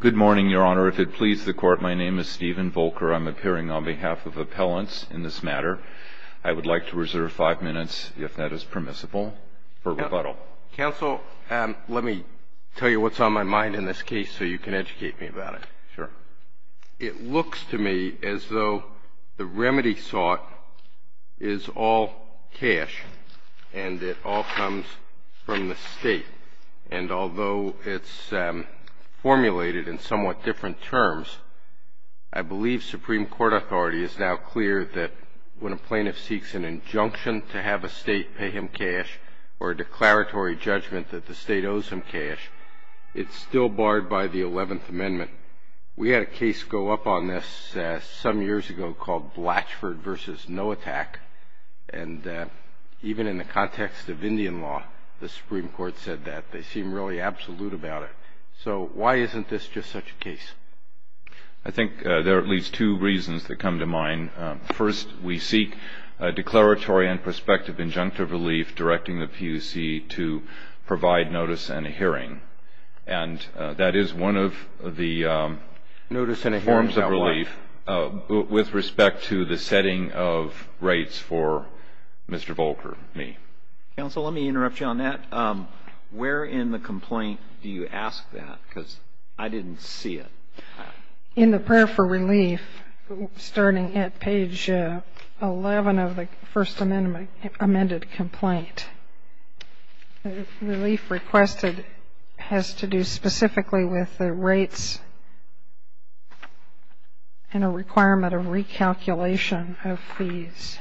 Good morning, Your Honor. If it pleases the Court, my name is Stephen Volker. I'm appearing on behalf of appellants in this matter. I would like to reserve five minutes, if that is permissible, for rebuttal. Counsel, let me tell you what's on my mind in this case so you can educate me about it. Sure. It looks to me as though the remedy sought is all cash, and it all comes from the state. And although it's formulated in somewhat different terms, I believe Supreme Court authority is now clear that when a plaintiff seeks an injunction to have a state pay him cash or a declaratory judgment that the state owes him cash, it's still barred by the Eleventh Amendment. We had a case go up on this some years ago called Blatchford v. No Attack. And even in the context of Indian law, the Supreme Court said that. They seem really absolute about it. So why isn't this just such a case? I think there are at least two reasons that come to mind. First, we seek a declaratory and prospective injunctive relief directing the PUC to provide notice and a hearing. And that is one of the forms of relief with respect to the setting of rates for Mr. Volcker, me. Counsel, let me interrupt you on that. Where in the complaint do you ask that? Because I didn't see it. In the prayer for relief, starting at page 11 of the First Amendment amended complaint, relief requested has to do specifically with the rates and a requirement of recalculation of fees.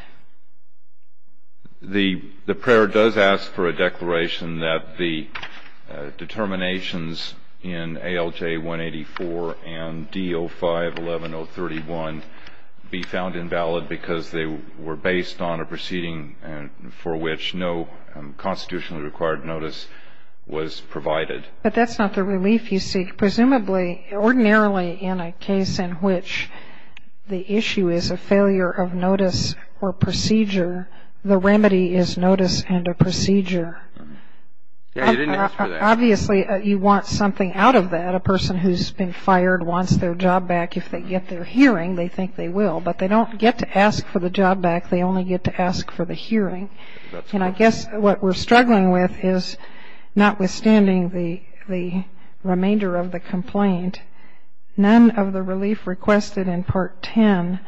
The prayer does ask for a declaration that the determinations in ALJ 184 and D05-11031 be found invalid because they were based on a proceeding for which no constitutionally required notice was provided. But that's not the relief you seek. Presumably, ordinarily in a case in which the issue is a failure of notice or procedure, the remedy is notice and a procedure. Obviously, you want something out of that. A person who's been fired wants their job back. If they get their hearing, they think they will. But they don't get to ask for the job back. They only get to ask for the hearing. And I guess what we're struggling with is, notwithstanding the remainder of the complaint, none of the relief requested in Part 10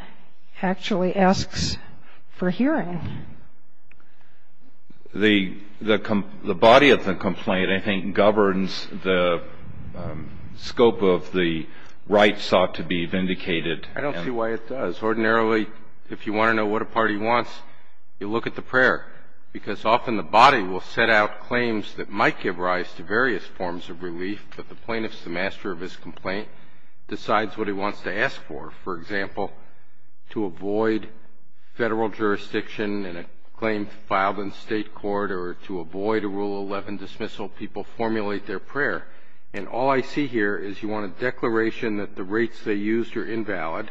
actually asks for hearing. The body of the complaint, I think, governs the scope of the rights sought to be vindicated. I don't see why it does. Ordinarily, if you want to know what a party wants, you look at the prayer, because often the body will set out claims that might give rise to various forms of relief, but the plaintiff's, the master of his complaint, decides what he wants to ask for. For example, to avoid federal jurisdiction in a claim filed in state court or to avoid a Rule 11 dismissal, people formulate their prayer. And all I see here is you want a declaration that the rates they used are invalid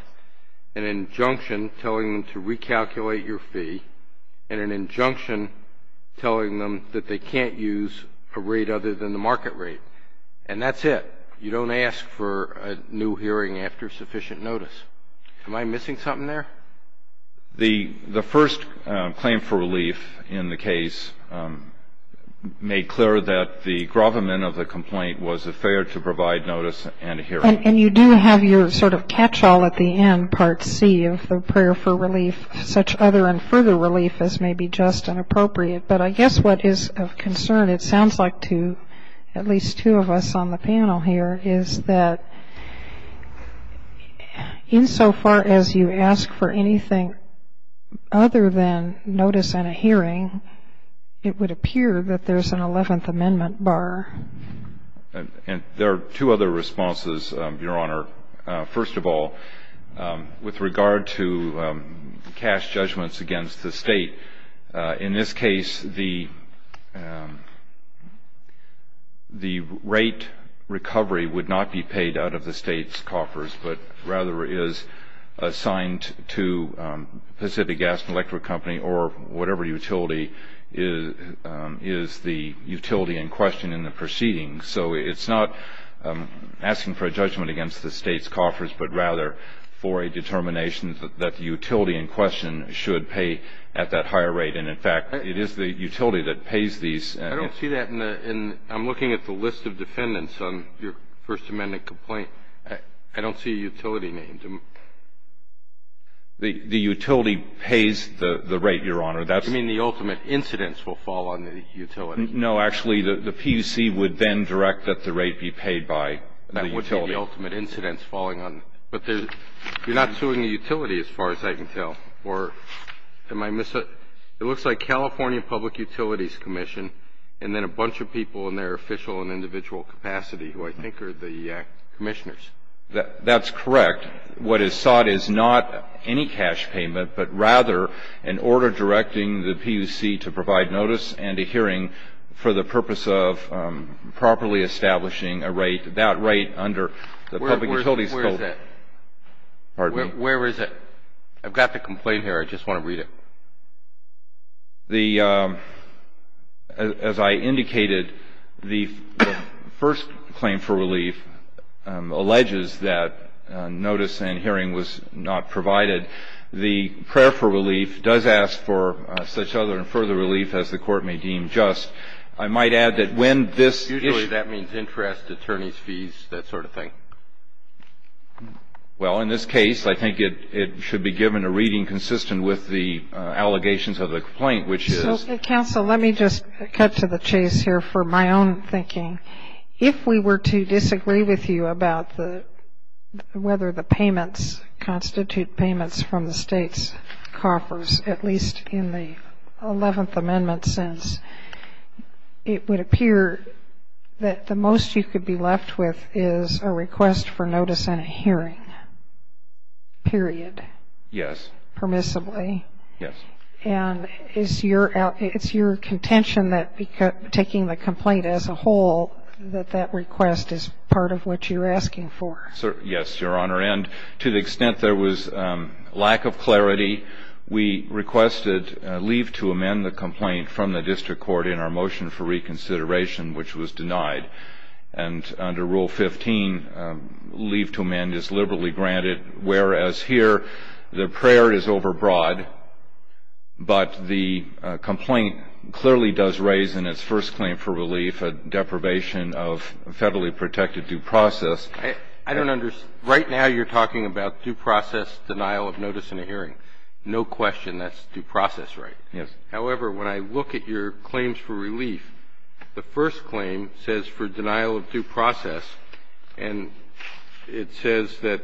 and an injunction telling them to recalculate your fee and an injunction telling them that they can't use a rate other than the market rate. And that's it. You don't ask for a new hearing after sufficient notice. Am I missing something there? The first claim for relief in the case made clear that the gravamen of the complaint was affair to provide notice and a hearing. And you do have your sort of catch-all at the end, Part C, of the prayer for relief, such other and further relief as may be just and appropriate. But I guess what is of concern, it sounds like to at least two of us on the panel here, is that insofar as you ask for anything other than notice and a hearing, it would appear that there's an Eleventh Amendment bar. And there are two other responses, Your Honor. First of all, with regard to cash judgments against the State, in this case, the rate recovery would not be paid out of the State's coffers but rather is assigned to Pacific Gas and Electric Company or whatever utility is the utility in question in the proceeding. So it's not asking for a judgment against the State's coffers, but rather for a determination that the utility in question should pay at that higher rate. And, in fact, it is the utility that pays these. I don't see that. And I'm looking at the list of defendants on your First Amendment complaint. I don't see a utility name. The utility pays the rate, Your Honor. You mean the ultimate incidents will fall on the utility? No. Actually, the PUC would then direct that the rate be paid by the utility. That would be the ultimate incidents falling on. But you're not suing the utility, as far as I can tell. Or am I missing it? It looks like California Public Utilities Commission and then a bunch of people in their official and individual capacity who I think are the commissioners. That's correct. What is sought is not any cash payment, but rather an order directing the PUC to provide notice and a hearing for the purpose of properly establishing a rate, that rate under the Public Utilities Code. Where is it? Pardon me? Where is it? I've got the complaint here. I just want to read it. The as I indicated, the first claim for relief alleges that notice and hearing was not provided. The prayer for relief does ask for such other and further relief as the Court may deem just. I might add that when this issue. Usually that means interest, attorney's fees, that sort of thing. Well, in this case, I think it should be given a reading consistent with the allegations of the complaint, which is. Counsel, let me just cut to the chase here for my own thinking. If we were to disagree with you about whether the payments constitute payments from the State's coffers, at least in the 11th Amendment sense, it would appear that the most you could be left with is a request for notice and a hearing. Period. Yes. Permissibly. Yes. And it's your contention that taking the complaint as a whole, that that request is part of what you're asking for. Yes, Your Honor. And to the extent there was lack of clarity, we requested leave to amend the complaint from the district court in our motion for reconsideration, which was denied. And under Rule 15, leave to amend is liberally granted, whereas here the prayer is overbroad, but the complaint clearly does raise in its first claim for relief a deprivation of federally protected due process. I don't understand. Right now you're talking about due process, denial of notice and a hearing. No question that's due process, right? Yes. However, when I look at your claims for relief, the first claim says for denial of due process, and it says that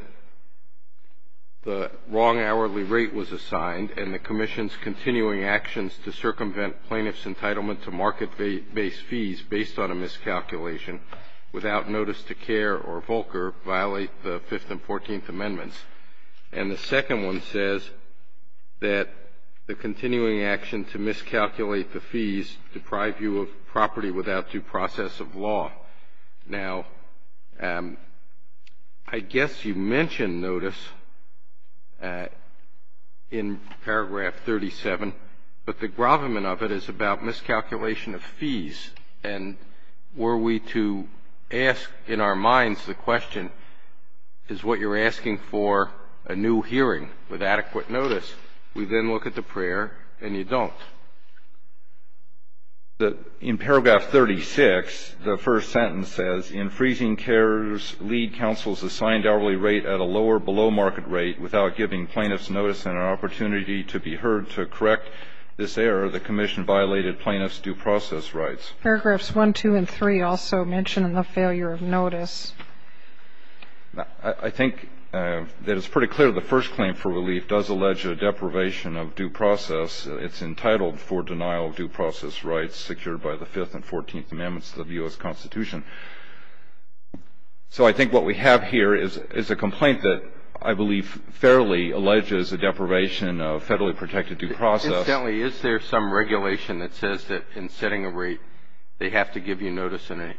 the wrong hourly rate was assigned and the commission's continuing actions to circumvent plaintiff's without notice to care or Volcker violate the Fifth and Fourteenth Amendments. And the second one says that the continuing action to miscalculate the fees deprive you of property without due process of law. Now, I guess you mentioned notice in paragraph 37, but the gravamen of it is about miscalculation of fees, and were we to ask in our minds the question, is what you're asking for a new hearing with adequate notice, we then look at the prayer and you don't. In paragraph 36, the first sentence says, in freezing CARES lead counsel's assigned hourly rate at a lower below market rate without giving plaintiff's notice and an opportunity to be heard to correct this error, the commission violated plaintiff's due process rights. Paragraphs 1, 2, and 3 also mention the failure of notice. I think that it's pretty clear the first claim for relief does allege a deprivation of due process. It's entitled for denial of due process rights secured by the Fifth and Fourteenth Amendments of the U.S. Constitution. So I think what we have here is a complaint that I believe fairly alleges a deprivation of federally protected due process. Incidentally, is there some regulation that says that in setting a rate, they have to give you notice in a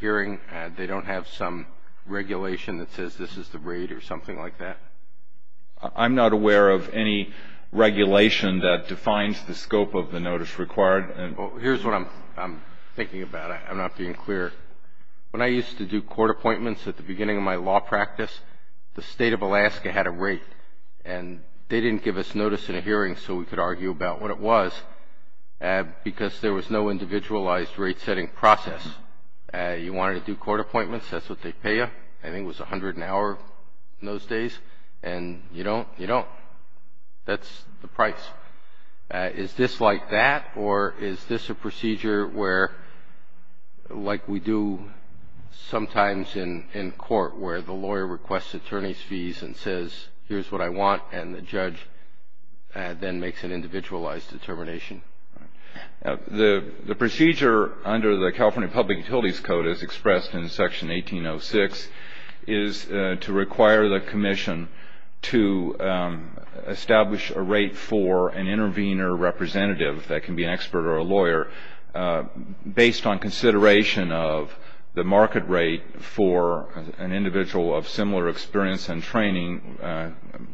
hearing? They don't have some regulation that says this is the rate or something like that? I'm not aware of any regulation that defines the scope of the notice required. Here's what I'm thinking about. I'm not being clear. When I used to do court appointments at the beginning of my law practice, the State of Alaska had a rate, and they didn't give us notice in a hearing so we could argue about what it was because there was no individualized rate-setting process. You wanted to do court appointments, that's what they pay you. I think it was $100 an hour in those days, and you don't, you don't. That's the price. Is this like that, or is this a procedure where, like we do sometimes in court, where the lawyer requests attorney's fees and says, here's what I want, and the judge then makes an individualized determination? The procedure under the California Public Utilities Code, as expressed in Section 1806, is to require the commission to establish a rate for an intervener representative that can be an expert or a lawyer, based on consideration of the market rate for an individual of similar experience and training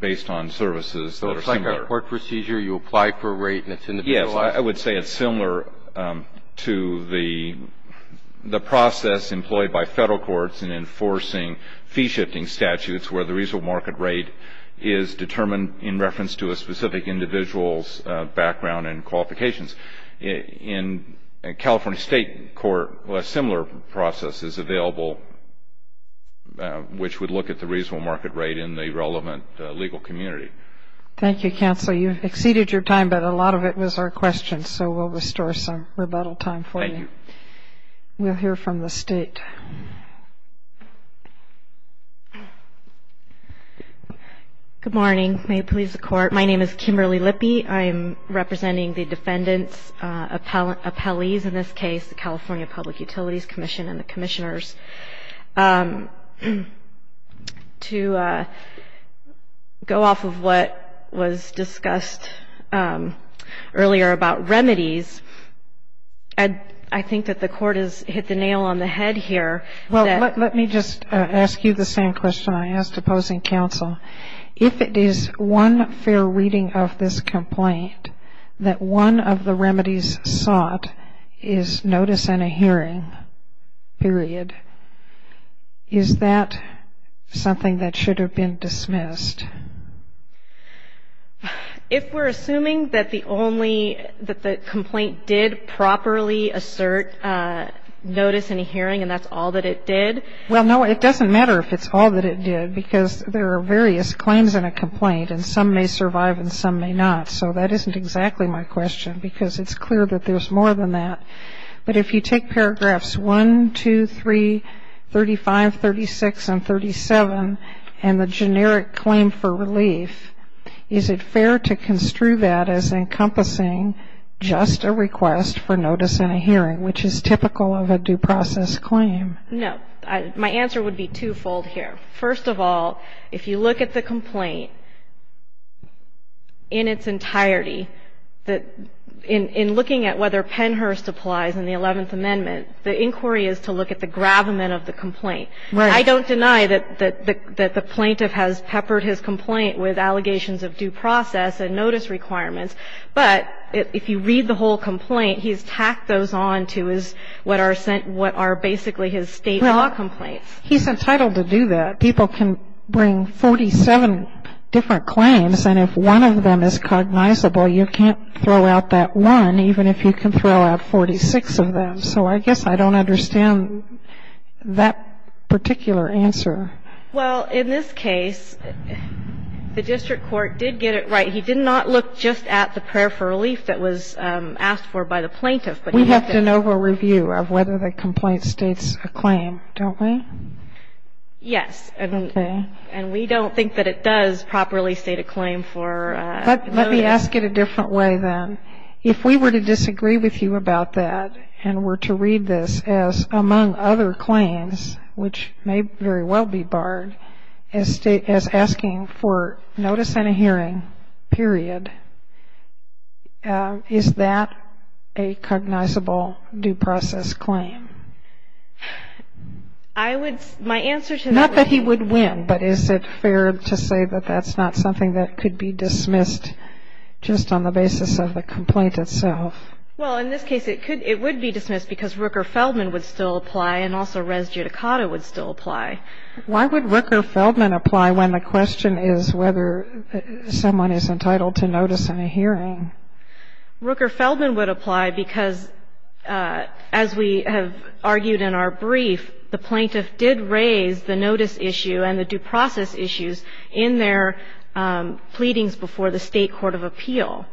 based on services that are similar. So it's like a court procedure? You apply for a rate and it's individualized? Yes. I would say it's similar to the process employed by Federal courts in enforcing fee-shifting statutes where the reasonable market rate is determined in reference to a specific individual's background and qualifications. In California State court, a similar process is available, which would look at the reasonable market rate in the relevant legal community. Thank you, Counsel. You've exceeded your time, but a lot of it was our questions, so we'll restore some rebuttal time for you. Thank you. We'll hear from the State. Good morning. May it please the Court. My name is Kimberly Lippey. I am representing the defendants' appellees in this case, the California Public Utilities Commission and the commissioners. To go off of what was discussed earlier about remedies, I think that the Court has hit the nail on the head here. Well, let me just ask you the same question I asked opposing counsel. If it is one fair reading of this complaint that one of the remedies sought is notice and a hearing, period, is that something that should have been dismissed? If we're assuming that the complaint did properly assert notice and a hearing and that's all that it did. Well, no, it doesn't matter if it's all that it did because there are various claims in a complaint and some may survive and some may not. So that isn't exactly my question because it's clear that there's more than that. But if you take paragraphs 1, 2, 3, 35, 36, and 37 and the generic claim for relief, is it fair to construe that as encompassing just a request for notice and a hearing, which is typical of a due process claim? No. My answer would be twofold here. First of all, if you look at the complaint in its entirety, in looking at whether Pennhurst applies in the Eleventh Amendment, the inquiry is to look at the gravamen of the complaint. Right. I don't deny that the plaintiff has peppered his complaint with allegations of due process and notice requirements. But if you read the whole complaint, he's tacked those on to what are basically his state law complaints. Well, he's entitled to do that. People can bring 47 different claims and if one of them is cognizable, you can't throw out that one, even if you can throw out 46 of them. So I guess I don't understand that particular answer. Well, in this case, the district court did get it right. He did not look just at the prayer for relief that was asked for by the plaintiff. We have to know for review of whether the complaint states a claim, don't we? Yes. Okay. And we don't think that it does properly state a claim for notice. Let me ask it a different way, then. If we were to disagree with you about that and were to read this as, among other claims, which may very well be barred, as asking for notice and a hearing, period, is that a cognizable due process claim? I would — my answer to that would be — Not that he would win, but is it fair to say that that's not something that could be dismissed just on the basis of the complaint itself? Well, in this case, it would be dismissed because Rooker-Feldman would still apply, and also Res Judicata would still apply. Why would Rooker-Feldman apply when the question is whether someone is entitled to notice and a hearing? Rooker-Feldman would apply because, as we have argued in our brief, the plaintiff did raise the notice issue and the due process issues in their pleadings before the State Court of Appeal.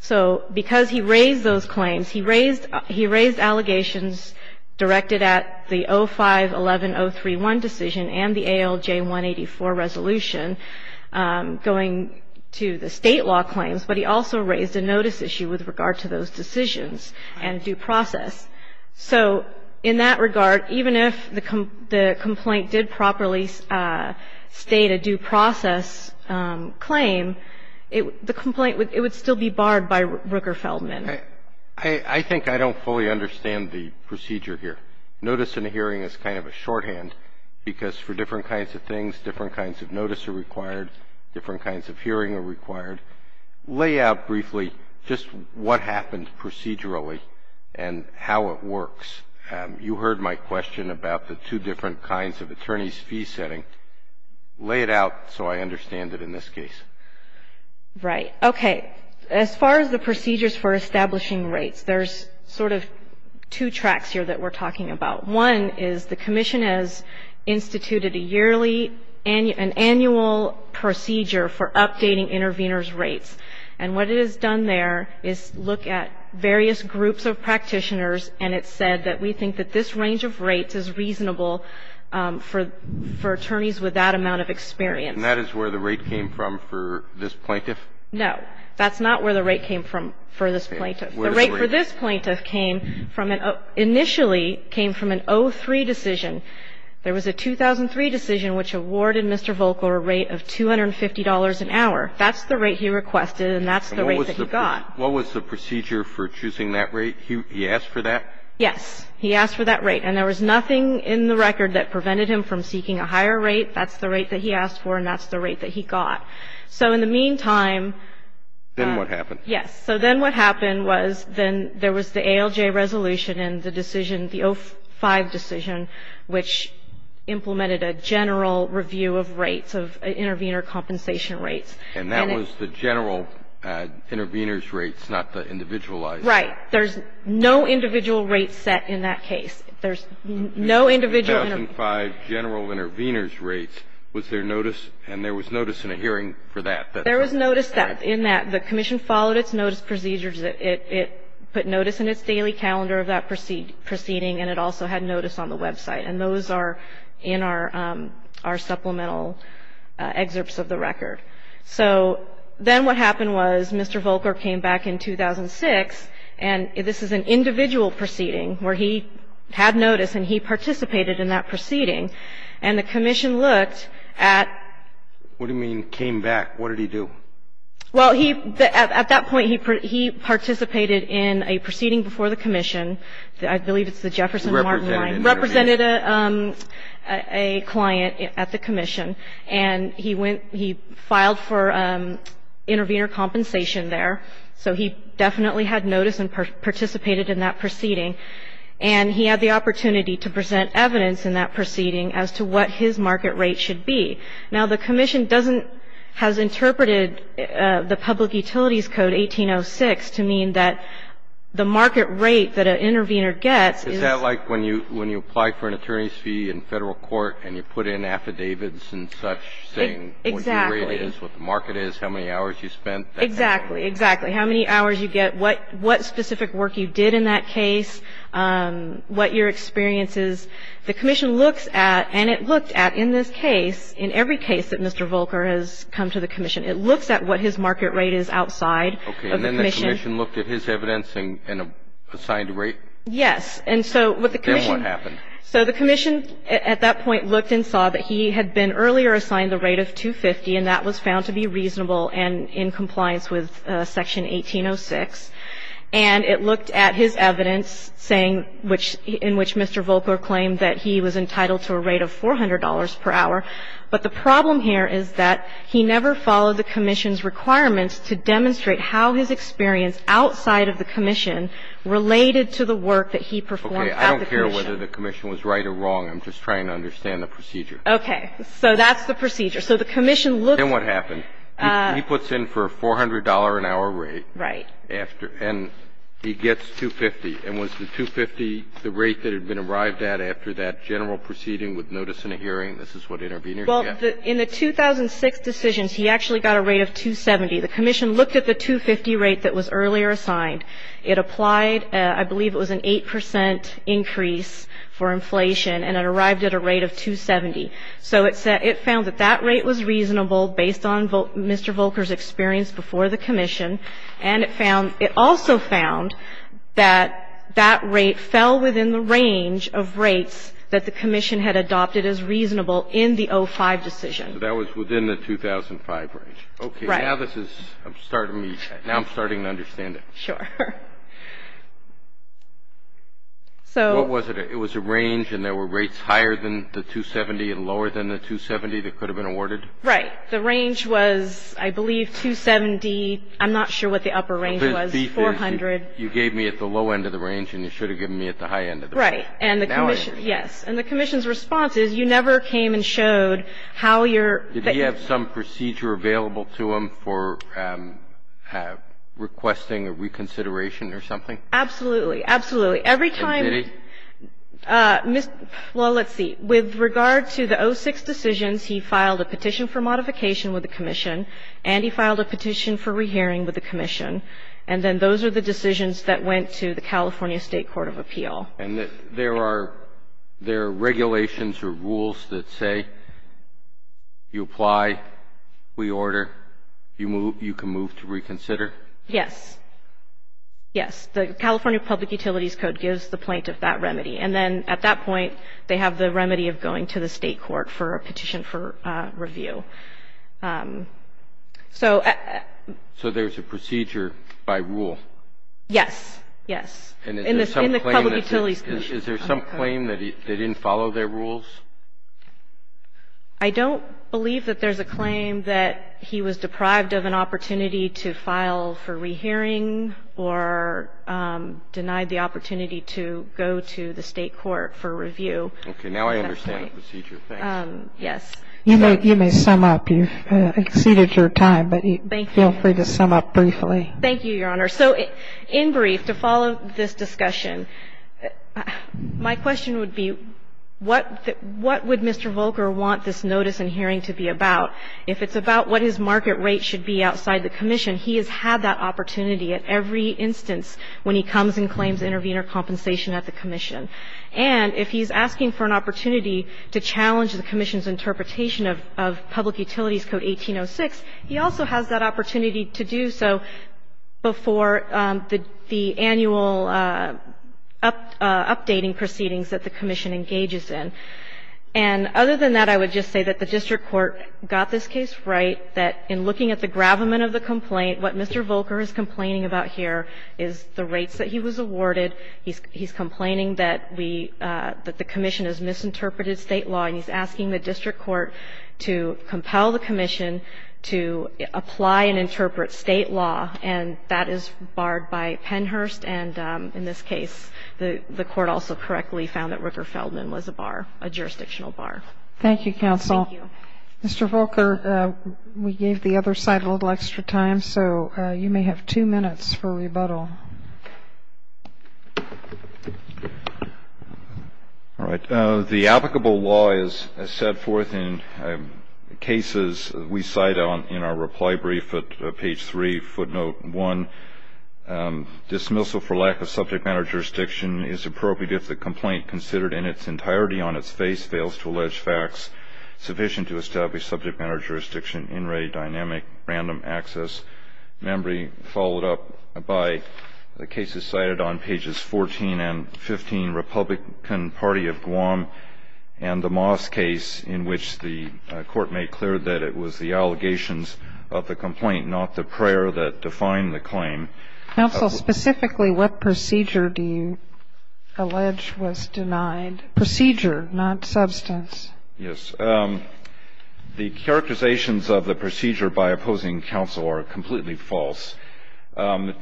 So because he raised those claims, he raised allegations directed at the 05-11031 decision and the ALJ-184 resolution going to the State law claims, but he also raised a notice issue with regard to those decisions and due process. So in that regard, even if the complaint did properly state a due process claim, the complaint would — it would still be barred by Rooker-Feldman. I think I don't fully understand the procedure here. Notice and a hearing is kind of a shorthand because for different kinds of things, different kinds of notice are required, different kinds of hearing are required. Lay out briefly just what happened procedurally and how it works. You heard my question about the two different kinds of attorney's fee setting. Lay it out so I understand it in this case. Right. Okay. As far as the procedures for establishing rates, there's sort of two tracks here that we're talking about. One is the commission has instituted a yearly — an annual procedure for updating intervenors' rates. And what it has done there is look at various groups of practitioners, and it said that we think that this range of rates is reasonable for attorneys with that amount of experience. And that is where the rate came from for this plaintiff? No. That's not where the rate came from for this plaintiff. The rate for this plaintiff came from an — initially came from an 03 decision. There was a 2003 decision which awarded Mr. Volcker a rate of $250 an hour. That's the rate he requested, and that's the rate that he got. What was the procedure for choosing that rate? He asked for that? Yes. He asked for that rate. And there was nothing in the record that prevented him from seeking a higher rate. That's the rate that he asked for, and that's the rate that he got. So in the meantime — Then what happened? Yes. So then what happened was then there was the ALJ resolution and the decision, the 05 decision, which implemented a general review of rates, of intervenor compensation rates. And that was the general intervenor's rates, not the individualized — Right. There's no individual rate set in that case. There's no individual — 2005 general intervenor's rates. Was there notice — and there was notice in a hearing for that. There was notice in that. The commission followed its notice procedures. It put notice in its daily calendar of that proceeding, and it also had notice on the website. And those are in our supplemental excerpts of the record. So then what happened was Mr. Volker came back in 2006, and this is an individual proceeding where he had notice and he participated in that proceeding, and the commission looked at — What do you mean came back? What did he do? Well, he — at that point, he participated in a proceeding before the commission. I believe it's the Jefferson Martin — Represented. Represented a client at the commission. And he went — he filed for intervenor compensation there. So he definitely had notice and participated in that proceeding. And he had the opportunity to present evidence in that proceeding as to what his market rate should be. Now, the commission doesn't — has interpreted the Public Utilities Code 1806 to mean that the market rate that an intervenor gets is — And you put in affidavits and such saying — Exactly. — what your rate is, what the market is, how many hours you spent. Exactly. Exactly. How many hours you get, what specific work you did in that case, what your experience is. The commission looks at — and it looked at in this case, in every case that Mr. Volker has come to the commission, it looks at what his market rate is outside of the commission. Okay. And then the commission looked at his evidence and assigned a rate? Yes. And so what the commission — Then what happened? So the commission at that point looked and saw that he had been earlier assigned the rate of $250, and that was found to be reasonable and in compliance with Section 1806. And it looked at his evidence saying — in which Mr. Volker claimed that he was entitled to a rate of $400 per hour. But the problem here is that he never followed the commission's requirements to demonstrate how his experience outside of the commission related to the work that he performed at the commission. Okay. I don't care whether the commission was right or wrong. I'm just trying to understand the procedure. Okay. So that's the procedure. So the commission looked — Then what happened? He puts in for a $400-an-hour rate. Right. And he gets $250. And was the $250 the rate that had been arrived at after that general proceeding with notice and a hearing? This is what interveners get. Well, in the 2006 decisions, he actually got a rate of $270. The commission looked at the $250 rate that was earlier assigned. It applied — I believe it was an 8 percent increase for inflation. And it arrived at a rate of $270. So it found that that rate was reasonable based on Mr. Volker's experience before the commission. And it found — it also found that that rate fell within the range of rates that the commission had adopted as reasonable in the 05 decision. So that was within the 2005 range. Right. Okay. Now this is — I'm starting to — now I'm starting to understand it. Sure. So — What was it? It was a range, and there were rates higher than the $270 and lower than the $270 that could have been awarded? Right. The range was, I believe, $270. I'm not sure what the upper range was, $400. You gave me at the low end of the range, and you should have given me at the high end of the range. Right. And the commission — yes. And the commission's response is, you never came and showed how your — Did he have some procedure available to him for requesting a reconsideration or something? Absolutely. Absolutely. Every time — And did he? Well, let's see. With regard to the 06 decisions, he filed a petition for modification with the commission, and he filed a petition for rehearing with the commission. And then those are the decisions that went to the California State Court of Appeal. And there are regulations or rules that say you apply, we order, you can move to reconsider? Yes. Yes. The California Public Utilities Code gives the plaintiff that remedy. And then at that point, they have the remedy of going to the state court for a petition for review. So — So there's a procedure by rule? Yes. Yes. And is there some claim that he didn't follow their rules? I don't believe that there's a claim that he was deprived of an opportunity to file for rehearing or denied the opportunity to go to the state court for review. Okay. Now I understand the procedure. Thanks. Yes. You may sum up. You've exceeded your time, but feel free to sum up briefly. Thank you, Your Honor. So in brief, to follow this discussion, my question would be, what would Mr. Volcker want this notice and hearing to be about? If it's about what his market rate should be outside the commission, he has had that opportunity at every instance when he comes and claims intervene or compensation at the commission. And if he's asking for an opportunity to challenge the commission's interpretation of Public Utilities Code 1806, he also has that opportunity to do so before the annual updating proceedings that the commission engages in. And other than that, I would just say that the district court got this case right, that in looking at the gravamen of the complaint, what Mr. Volcker is complaining about here is the rates that he was awarded. He's complaining that we, that the commission has misinterpreted state law, and he's asking the district court to compel the commission to apply and interpret state law, and that is barred by Pennhurst. And in this case, the court also correctly found that Rooker-Feldman was a bar, a jurisdictional bar. Thank you, counsel. Thank you. Mr. Volcker, we gave the other side a little extra time, so you may have two minutes for rebuttal. All right. The applicable law is set forth in cases we cite in our reply brief at page 3, footnote 1. Dismissal for lack of subject matter jurisdiction is appropriate if the complaint considered in its entirety on its face fails to allege facts sufficient to establish subject matter The case is cited on pages 14 and 15, Republican Party of Guam and the Moss case, in which the court made clear that it was the allegations of the complaint, not the prayer that defined the claim. Counsel, specifically what procedure do you allege was denied? Procedure, not substance. Yes. The characterizations of the procedure by opposing counsel are completely false.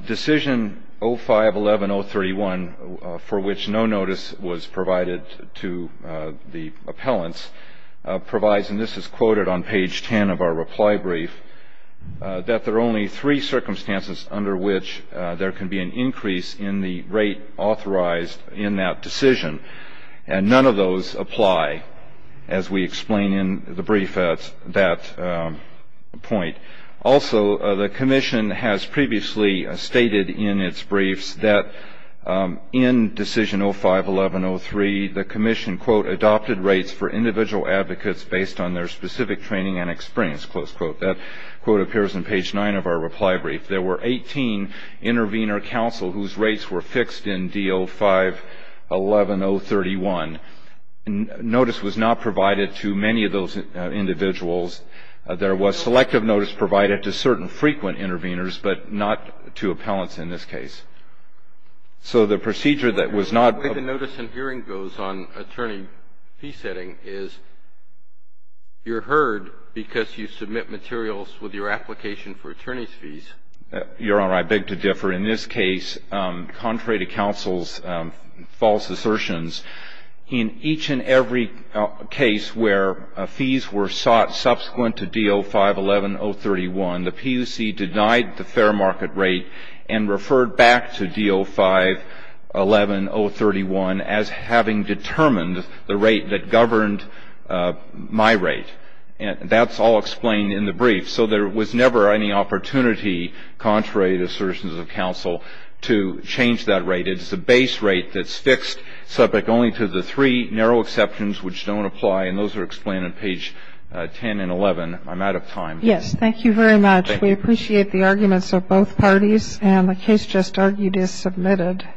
Decision 05-11031, for which no notice was provided to the appellants, provides, and this is quoted on page 10 of our reply brief, that there are only three circumstances under which there can be an increase in the rate authorized in that decision, and none of those apply, as we explain in the brief at that point. Also, the commission has previously stated in its briefs that in decision 05-1103, the commission, quote, adopted rates for individual advocates based on their specific training and experience, close quote. That quote appears on page 9 of our reply brief. There were 18 intervenor counsel whose rates were fixed in D05-11031. Notice was not provided to many of those individuals. There was selective notice provided to certain frequent intervenors, but not to appellants in this case. So the procedure that was not ---- The way the notice in hearing goes on attorney fee setting is you're heard because you submit materials with your application for attorney's fees. Your Honor, I beg to differ. In this case, contrary to counsel's false assertions, in each and every case where fees were sought subsequent to D05-11031, the PUC denied the fair market rate and referred back to D05-11031 as having determined the rate that governed my rate. That's all explained in the brief. So there was never any opportunity, contrary to the assertions of counsel, to change that rate. It's a base rate that's fixed subject only to the three narrow exceptions which don't apply, and those are explained on page 10 and 11. I'm out of time. Yes. Thank you very much. Thank you. We appreciate the arguments of both parties, and the case just argued is submitted.